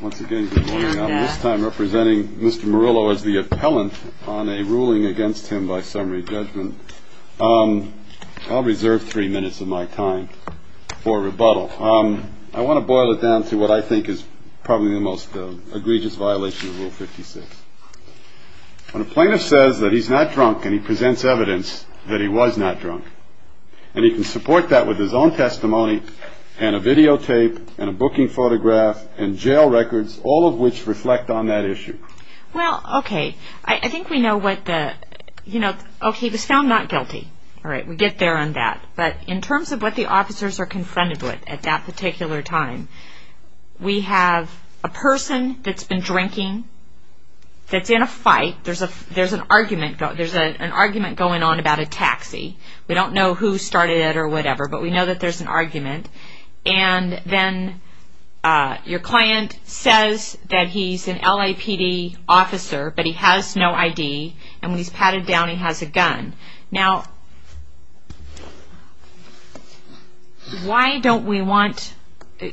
Once again, good morning. I'm this time representing Mr. Murillo as the appellant on a ruling against him by summary judgment. I'll reserve three minutes of my time for rebuttal. I want to boil it down to what I think is probably the most egregious violation of Rule 56. When a plaintiff says that he's not drunk and he presents evidence that he was not drunk, and he can support that with his own testimony and a video tape and a booking photograph and jail records, all of which reflect on that issue. Well, okay. I think we know what the, you know, okay, he was found not guilty. All right, we get there on that. But in terms of what the officers are confronted with at that particular time, we have a person that's been drinking, that's in a fight. There's an argument going on about a taxi. We don't know who started it or whatever, but we know that there's an argument. And then your client says that he's an LAPD officer, but he has no ID. And when he's patted down, he has a gun. Now, why don't we want,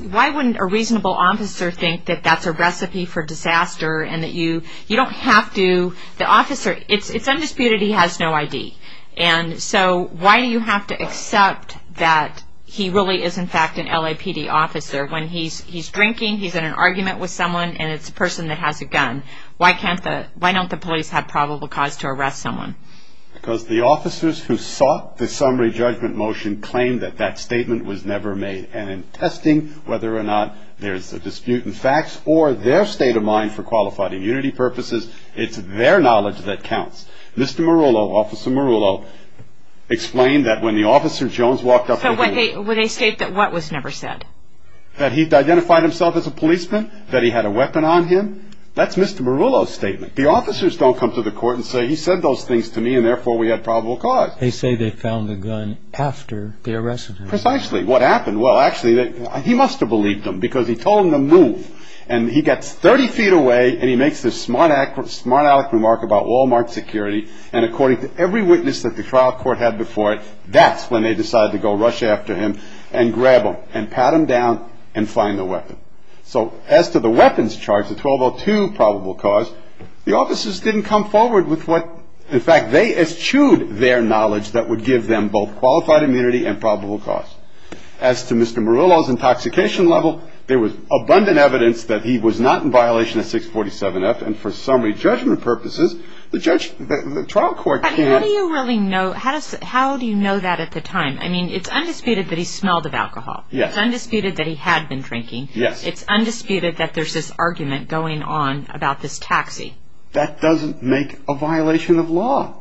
why wouldn't a reasonable officer think that that's a recipe for disaster and that you don't have to, the officer, it's undisputed he has no ID. And so why do you have to accept that he really is, in fact, an LAPD officer? When he's drinking, he's in an argument with someone, and it's a person that has a gun. Why can't the, why don't the police have probable cause to arrest someone? Because the officers who sought the summary judgment motion claimed that that statement was never made. And in testing whether or not there's a dispute in facts or their state of mind for qualified immunity purposes, it's their knowledge that counts. Mr. Marullo, Officer Marullo, explained that when the officer Jones walked up to him. So when they state that what was never said? That he'd identified himself as a policeman, that he had a weapon on him. That's Mr. Marullo's statement. The officers don't come to the court and say, he said those things to me and therefore we had probable cause. They say they found the gun after the arrest. Precisely. What happened? And he gets 30 feet away, and he makes this smart aleck remark about Wal-Mart security, and according to every witness that the trial court had before it, that's when they decide to go rush after him and grab him and pat him down and find the weapon. So as to the weapons charge, the 1202 probable cause, the officers didn't come forward with what, in fact, they eschewed their knowledge that would give them both qualified immunity and probable cause. As to Mr. Marullo's intoxication level, there was abundant evidence that he was not in violation of 647F, and for summary judgment purposes, the trial court can't... But how do you really know, how do you know that at the time? I mean, it's undisputed that he smelled of alcohol. Yes. It's undisputed that he had been drinking. Yes. It's undisputed that there's this argument going on about this taxi. That doesn't make a violation of law.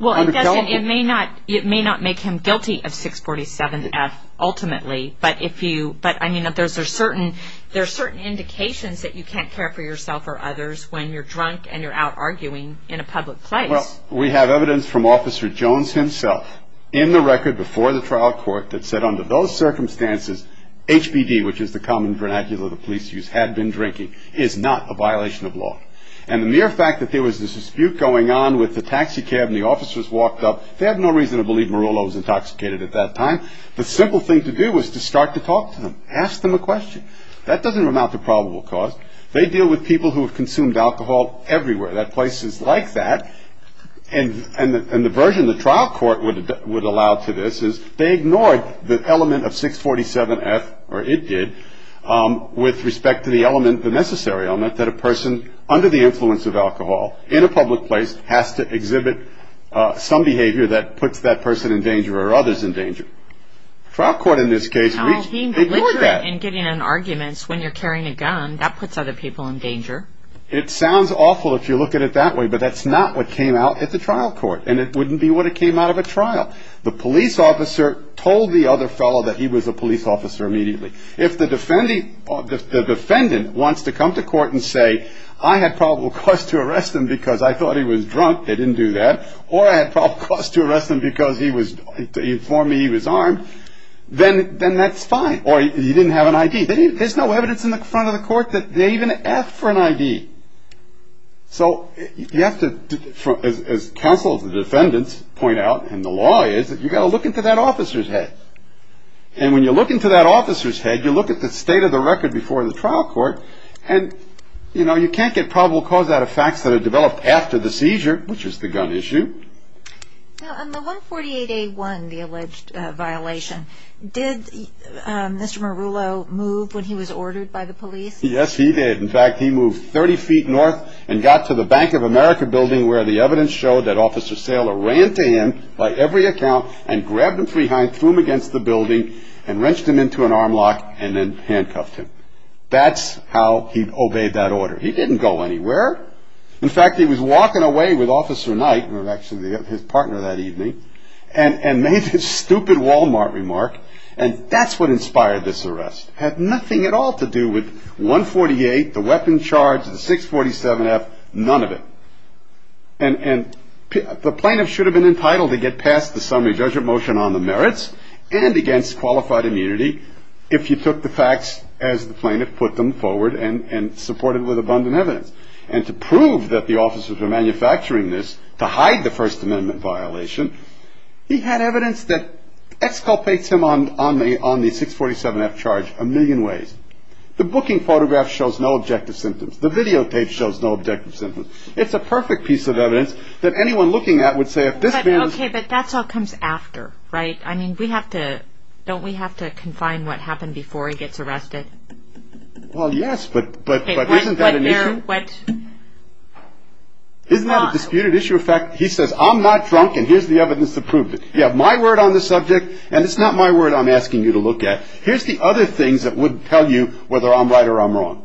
Well, it doesn't. It may not make him guilty of 647F ultimately, but if you... But, I mean, there's certain indications that you can't care for yourself or others when you're drunk and you're out arguing in a public place. Well, we have evidence from Officer Jones himself in the record before the trial court that said under those circumstances, HBD, which is the common vernacular the police use, had been drinking, is not a violation of law. And the mere fact that there was this dispute going on with the taxi cab and the officers walked up, they had no reason to believe Marullo was intoxicated at that time. The simple thing to do was to start to talk to them. Ask them a question. That doesn't amount to probable cause. They deal with people who have consumed alcohol everywhere. At places like that, and the version the trial court would allow to this is they ignored the element of 647F, or it did, with respect to the element, the necessary element, that a person under the influence of alcohol in a public place has to exhibit some behavior that puts that person in danger or others in danger. Trial court in this case ignored that. He literally, in getting in arguments when you're carrying a gun, that puts other people in danger. It sounds awful if you look at it that way, but that's not what came out at the trial court, and it wouldn't be what came out of a trial. The police officer told the other fellow that he was a police officer immediately. If the defendant wants to come to court and say, I had probable cause to arrest him because I thought he was drunk, they didn't do that, or I had probable cause to arrest him because he informed me he was armed, then that's fine. Or he didn't have an ID. There's no evidence in the front of the court that they even asked for an ID. So you have to, as counsel of the defendants point out, and the law is, you've got to look into that officer's head. And when you look into that officer's head, you look at the state of the record before the trial court, and, you know, you can't get probable cause out of facts that are developed after the seizure, which is the gun issue. On the 148A1, the alleged violation, did Mr. Marullo move when he was ordered by the police? Yes, he did. In fact, he moved 30 feet north and got to the Bank of America building where the evidence showed that Officer Saylor ran to him by every account and grabbed him from behind, threw him against the building, and wrenched him into an arm lock, and then handcuffed him. That's how he obeyed that order. He didn't go anywhere. In fact, he was walking away with Officer Knight, who was actually his partner that evening, and made this stupid Walmart remark, and that's what inspired this arrest. It had nothing at all to do with 148, the weapon charge, the 647F, none of it. And the plaintiff should have been entitled to get past the summary judgment motion on the merits and against qualified immunity if he took the facts as the plaintiff put them forward and supported with abundant evidence. And to prove that the officers were manufacturing this to hide the First Amendment violation, he had evidence that exculpates him on the 647F charge a million ways. The booking photograph shows no objective symptoms. The videotape shows no objective symptoms. It's a perfect piece of evidence that anyone looking at would say, if this man was- Okay, but that's all comes after, right? I mean, don't we have to confine what happened before he gets arrested? Well, yes, but isn't that an issue? Isn't that a disputed issue? In fact, he says, I'm not drunk, and here's the evidence to prove it. You have my word on the subject, and it's not my word I'm asking you to look at. Here's the other things that would tell you whether I'm right or I'm wrong.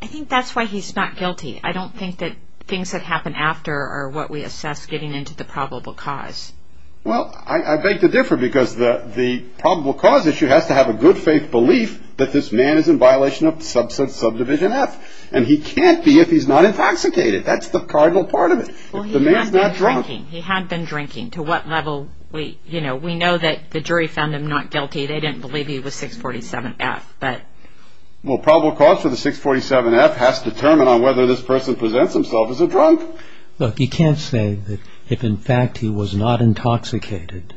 I think that's why he's not guilty. I don't think that things that happen after are what we assess getting into the probable cause. Well, I beg to differ because the probable cause issue has to have a good-faith belief that this man is in violation of substance subdivision F, and he can't be if he's not intoxicated. That's the cardinal part of it. Well, he had been drinking. He had been drinking. To what level? We know that the jury found him not guilty. They didn't believe he was 647F. Right. Well, probable cause for the 647F has to determine on whether this person presents himself as a drunk. Look, you can't say that if, in fact, he was not intoxicated,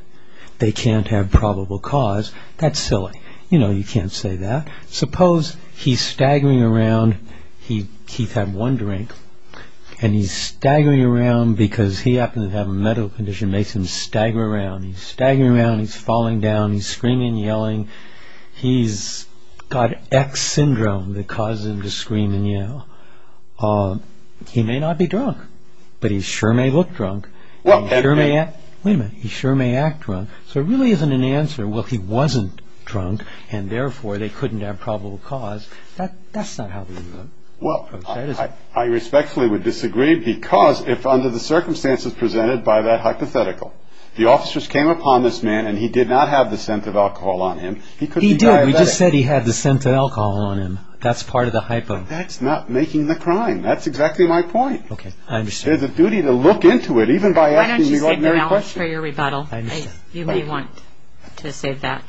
they can't have probable cause. That's silly. You know you can't say that. Suppose he's staggering around. He had one drink, and he's staggering around because he happens to have a mental condition that makes him stagger around. He's staggering around. He's falling down. He's screaming and yelling. He's got X syndrome that causes him to scream and yell. He may not be drunk, but he sure may look drunk. Wait a minute. He sure may act drunk. So it really isn't an answer. Well, he wasn't drunk, and therefore they couldn't have probable cause. That's not how it works. Well, I respectfully would disagree because if under the circumstances presented by that hypothetical, the officers came upon this man, and he did not have the scent of alcohol on him, he could be diabetic. He did. We just said he had the scent of alcohol on him. That's part of the hypo. That's not making the crime. That's exactly my point. Okay. I understand. There's a duty to look into it, even by asking the ordinary question. Why don't you save the balance for your rebuttal? I understand. You may want to save that.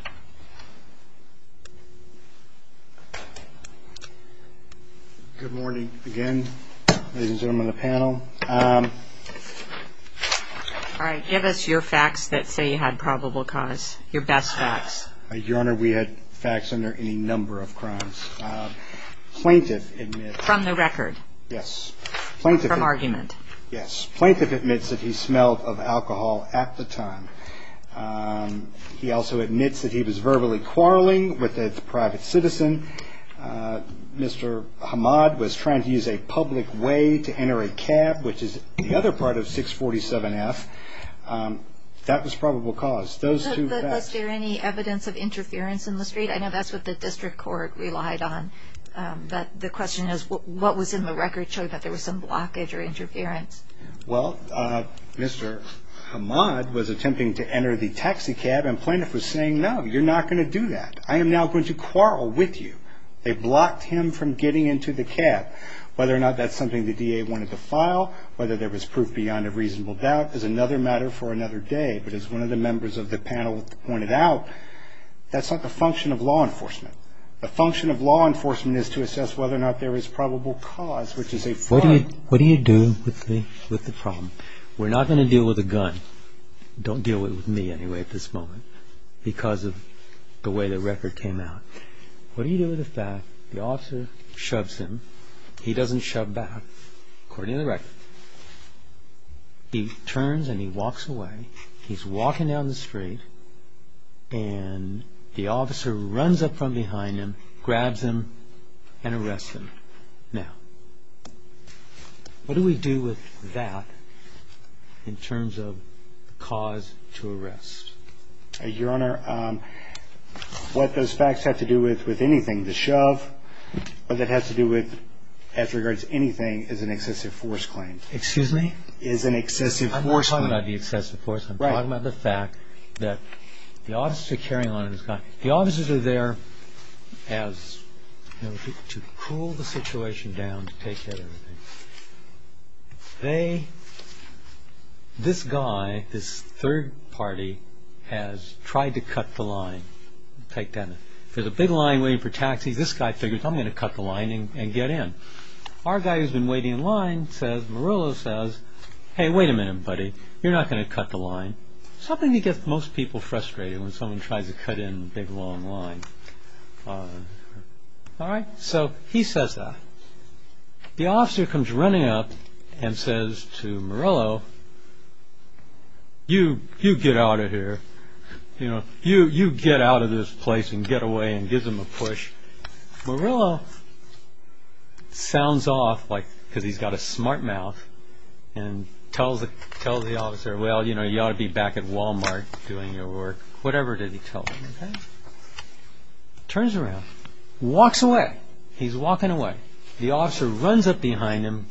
Good morning again, ladies and gentlemen of the panel. Good morning. Good morning. All right. Give us your facts that say you had probable cause, your best facts. Your Honor, we had facts under any number of crimes. Plaintiff admits. From the record. Yes. Plaintiff. From argument. Yes. Plaintiff admits that he smelled of alcohol at the time. He also admits that he was verbally quarreling with a private citizen. Mr. Hamad was trying to use a public way to enter a cab, which is the other part of 647F. That was probable cause. Those two facts. But was there any evidence of interference in the street? I know that's what the district court relied on. But the question is, what was in the record showing that there was some blockage or interference? Well, Mr. Hamad was attempting to enter the taxi cab, and plaintiff was saying, no, you're not going to do that. I am now going to quarrel with you. They blocked him from getting into the cab. Whether or not that's something the DA wanted to file, whether there was proof beyond a reasonable doubt is another matter for another day. But as one of the members of the panel pointed out, that's not the function of law enforcement. The function of law enforcement is to assess whether or not there is probable cause, which is a fraud. What do you do with the problem? We're not going to deal with a gun. Don't deal with me, anyway, at this moment, because of the way the record came out. What do you do with the fact that the officer shoves him, he doesn't shove back, according to the record. He turns and he walks away. He's walking down the street, and the officer runs up from behind him, grabs him, and arrests him. Now, what do we do with that in terms of cause to arrest? Your Honor, what those facts have to do with anything, the shove, what that has to do with, as regards to anything, is an excessive force claim. Excuse me? Is an excessive force claim. I'm not talking about the excessive force. Right. I'm talking about the fact that the officers are there to cool the situation down, to take care of everything. This guy, this third party, has tried to cut the line. If there's a big line waiting for taxis, this guy figures, I'm going to cut the line and get in. Our guy who's been waiting in line says, Marillo says, hey, wait a minute, buddy, you're not going to cut the line. Something that gets most people frustrated when someone tries to cut in a big, long line. All right. So he says that. The officer comes running up and says to Marillo, you get out of here. You get out of this place and get away and gives him a push. Marillo sounds off, like, because he's got a smart mouth and tells the officer, well, you know, you ought to be back at Wal-Mart doing your work. Whatever did he tell him? Turns around, walks away. He's walking away. The officer runs up behind him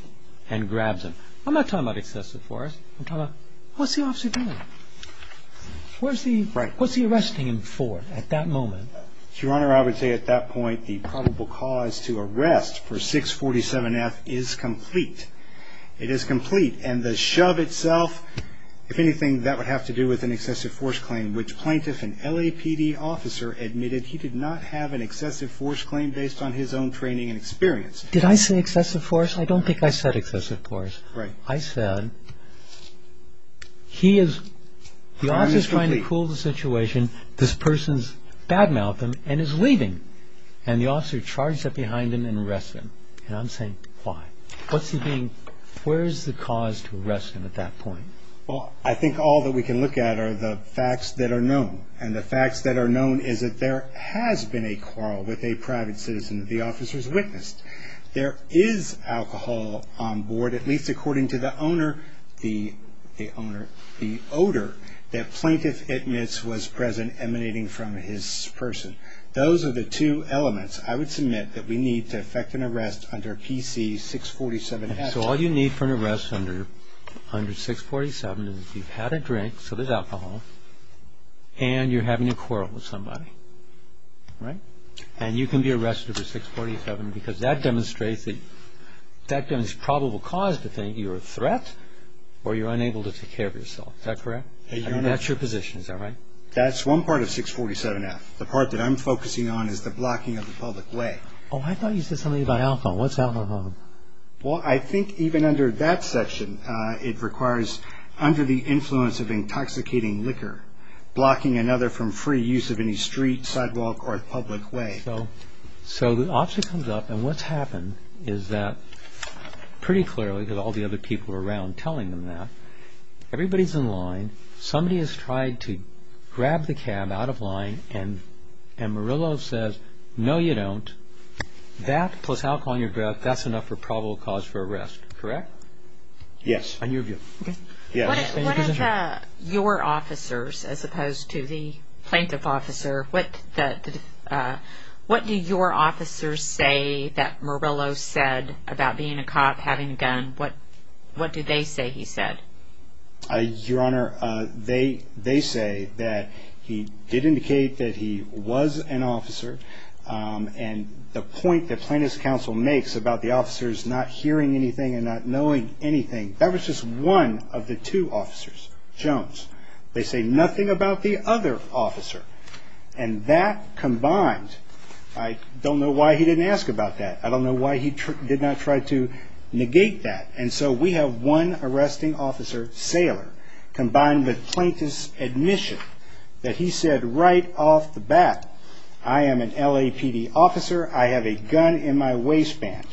and grabs him. I'm not talking about excessive force. I'm talking about, what's the officer doing? What's he arresting him for at that moment? Your Honor, I would say at that point the probable cause to arrest for 647F is complete. It is complete. And the shove itself, if anything, that would have to do with an excessive force claim, which plaintiff and LAPD officer admitted he did not have an excessive force claim based on his own training and experience. Did I say excessive force? I don't think I said excessive force. Right. I said, he is, the officer is trying to cool the situation. This person's bad-mouthed him and is leaving. And the officer charged up behind him and arrests him. And I'm saying, why? What's he being, where is the cause to arrest him at that point? Well, I think all that we can look at are the facts that are known. And the facts that are known is that there has been a quarrel with a private citizen that the officer has witnessed. There is alcohol on board, at least according to the owner, the owner, the odor that plaintiff admits was present emanating from his person. Those are the two elements I would submit that we need to effect an arrest under PC 647F. So all you need for an arrest under 647 is you've had a drink, so there's alcohol, and you're having a quarrel with somebody, right? And you can be arrested under 647 because that demonstrates probable cause to think you're a threat or you're unable to take care of yourself. Is that correct? That's your position. Is that right? That's one part of 647F. The part that I'm focusing on is the blocking of the public way. Oh, I thought you said something about alcohol. What's alcohol? Well, I think even under that section, it requires under the influence of intoxicating liquor, blocking another from free use of any street, sidewalk, or public way. So the officer comes up, and what's happened is that pretty clearly, because all the other people were around telling them that, everybody's in line. Somebody has tried to grab the cab out of line, and Murillo says, no, you don't. That plus alcohol on your breath, that's enough for probable cause for arrest. Correct? Yes. On your view. What do your officers, as opposed to the plaintiff officer, what do your officers say that Murillo said about being a cop, having a gun? What do they say he said? Your Honor, they say that he did indicate that he was an officer. And the point that plaintiff's counsel makes about the officers not hearing anything and not knowing anything, that was just one of the two officers, Jones. They say nothing about the other officer. And that combined, I don't know why he didn't ask about that. I don't know why he did not try to negate that. And so we have one arresting officer, Saylor, combined with plaintiff's admission that he said right off the bat, I am an LAPD officer. I have a gun in my waistband.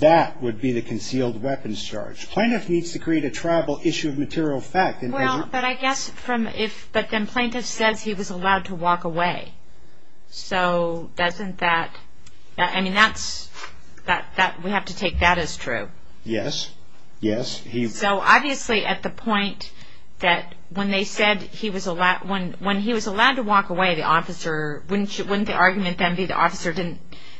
That would be the concealed weapons charge. Plaintiff needs to create a tribal issue of material fact. Well, but I guess from if, but then plaintiff says he was allowed to walk away. So doesn't that, I mean that's, we have to take that as true. Yes, yes. So obviously at the point that when they said he was allowed, when he was allowed to walk away, the officer, wouldn't the argument then be the officer didn't,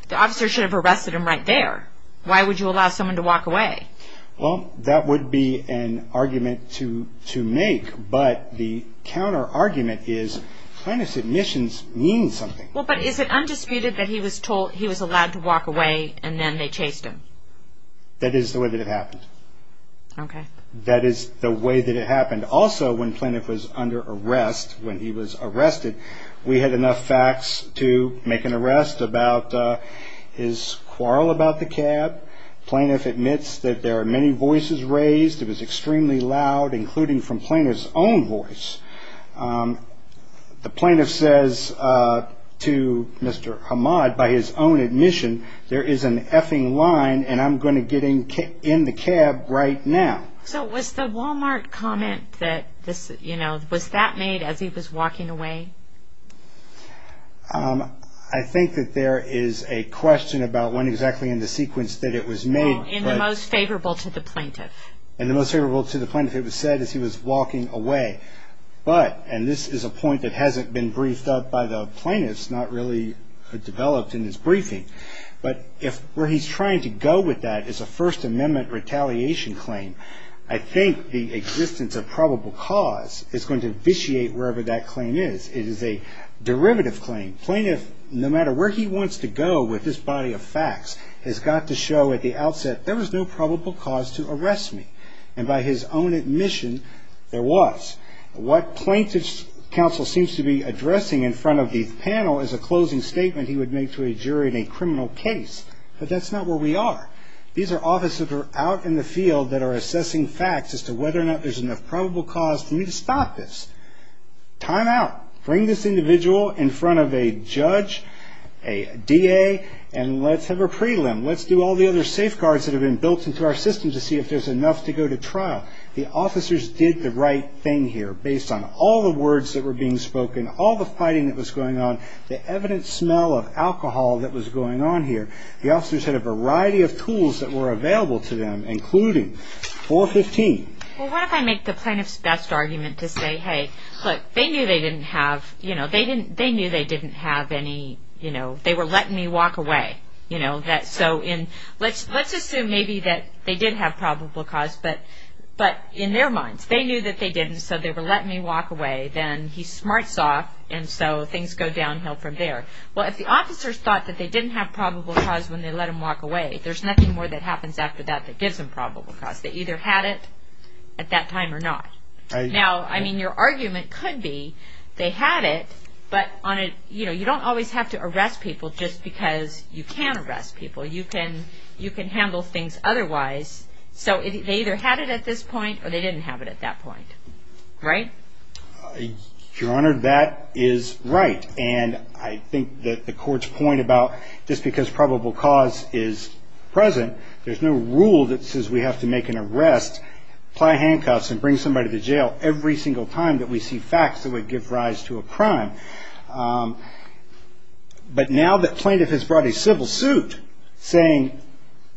the officer should have arrested him right there. Why would you allow someone to walk away? Well, that would be an argument to make, but the counter argument is plaintiff's admissions mean something. Well, but is it undisputed that he was allowed to walk away and then they chased him? That is the way that it happened. Okay. That is the way that it happened. Also, when plaintiff was under arrest, when he was arrested, we had enough facts to make an arrest about his quarrel about the cab. Plaintiff admits that there are many voices raised. It was extremely loud, including from plaintiff's own voice. The plaintiff says to Mr. Hamad, by his own admission, there is an effing line and I'm going to get in the cab right now. So was the Walmart comment that this, you know, was that made as he was walking away? I think that there is a question about when exactly in the sequence that it was made. In the most favorable to the plaintiff. And the most favorable to the plaintiff, it was said, as he was walking away. But, and this is a point that hasn't been briefed up by the plaintiffs, not really developed in this briefing, but if where he's trying to go with that is a First Amendment retaliation claim, I think the existence of probable cause is going to vitiate wherever that claim is. It is a derivative claim. The plaintiff, no matter where he wants to go with this body of facts, has got to show at the outset there was no probable cause to arrest me. And by his own admission, there was. What plaintiff's counsel seems to be addressing in front of the panel is a closing statement he would make to a jury in a criminal case. But that's not where we are. These are officers who are out in the field that are assessing facts as to whether or not there's enough probable cause for me to stop this. Time out. Bring this individual in front of a judge, a DA, and let's have a prelim. Let's do all the other safeguards that have been built into our system to see if there's enough to go to trial. The officers did the right thing here based on all the words that were being spoken, all the fighting that was going on, the evident smell of alcohol that was going on here. The officers had a variety of tools that were available to them, including 415. Well, what if I make the plaintiff's best argument to say, hey, look, they knew they didn't have, you know, they knew they didn't have any, you know, they were letting me walk away, you know. So let's assume maybe that they did have probable cause. But in their minds, they knew that they didn't, so they were letting me walk away. Then he smarts off, and so things go downhill from there. Well, if the officers thought that they didn't have probable cause when they let him walk away, there's nothing more that happens after that that gives them probable cause. They either had it at that time or not. Now, I mean, your argument could be they had it, but on a, you know, you don't always have to arrest people just because you can arrest people. You can handle things otherwise. So they either had it at this point or they didn't have it at that point. Right? Your Honor, that is right. And I think that the court's point about just because probable cause is present, there's no rule that says we have to make an arrest, apply handcuffs and bring somebody to jail every single time that we see facts that would give rise to a crime. But now that plaintiff has brought a civil suit saying,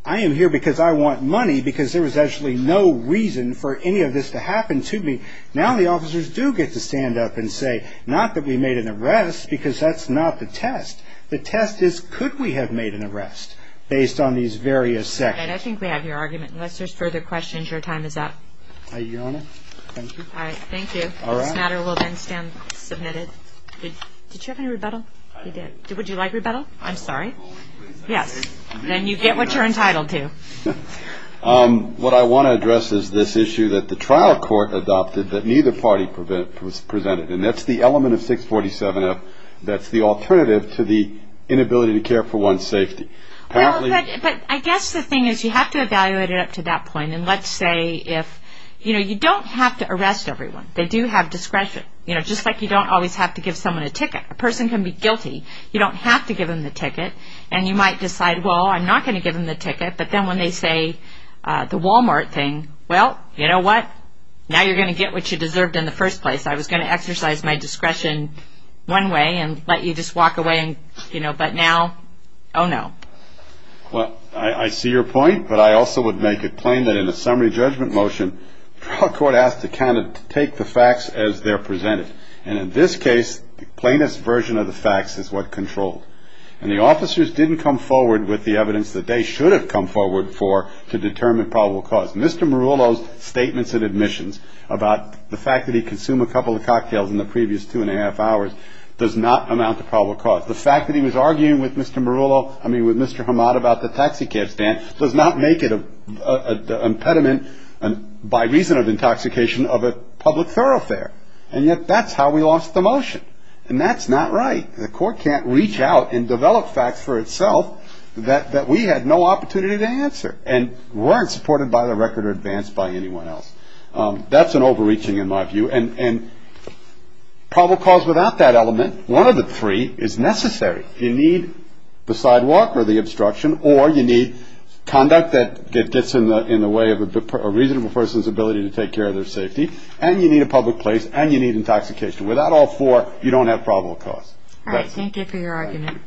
I am here because I want money because there was actually no reason for any of this to happen to me, now the officers do get to stand up and say, not that we made an arrest because that's not the test. The test is could we have made an arrest based on these various sections. I think we have your argument. Unless there's further questions, your time is up. Your Honor, thank you. All right. Thank you. This matter will then stand submitted. Did you have any rebuttal? I did. Would you like rebuttal? I'm sorry. Yes. Then you get what you're entitled to. What I want to address is this issue that the trial court adopted that neither party presented, and that's the element of 647F that's the alternative to the inability to care for one's safety. Well, but I guess the thing is you have to evaluate it up to that point. And let's say if, you know, you don't have to arrest everyone. They do have discretion. You know, just like you don't always have to give someone a ticket. A person can be guilty. You don't have to give them the ticket. And you might decide, well, I'm not going to give them the ticket. But then when they say the Walmart thing, well, you know what, now you're going to get what you deserved in the first place. I was going to exercise my discretion one way and let you just walk away and, you know, but now, oh, no. Well, I see your point. But I also would make it plain that in the summary judgment motion, the trial court asked the candidate to take the facts as they're presented. And in this case, the plainest version of the facts is what controlled. And the officers didn't come forward with the evidence that they should have come forward for to determine probable cause. Mr. Marullo's statements and admissions about the fact that he consumed a couple of cocktails in the previous two and a half hours does not amount to probable cause. The fact that he was arguing with Mr. Marullo, I mean with Mr. Hamad about the taxicab stand, does not make it an impediment by reason of intoxication of a public thoroughfare. And yet that's how we lost the motion. And that's not right. The court can't reach out and develop facts for itself that we had no opportunity to answer and weren't supported by the record or advanced by anyone else. That's an overreaching in my view. And probable cause without that element, one of the three, is necessary. You need the sidewalk or the obstruction or you need conduct that gets in the way of a reasonable person's ability to take care of their safety. And you need a public place and you need intoxication. Without all four, you don't have probable cause. All right. Thank you for your argument.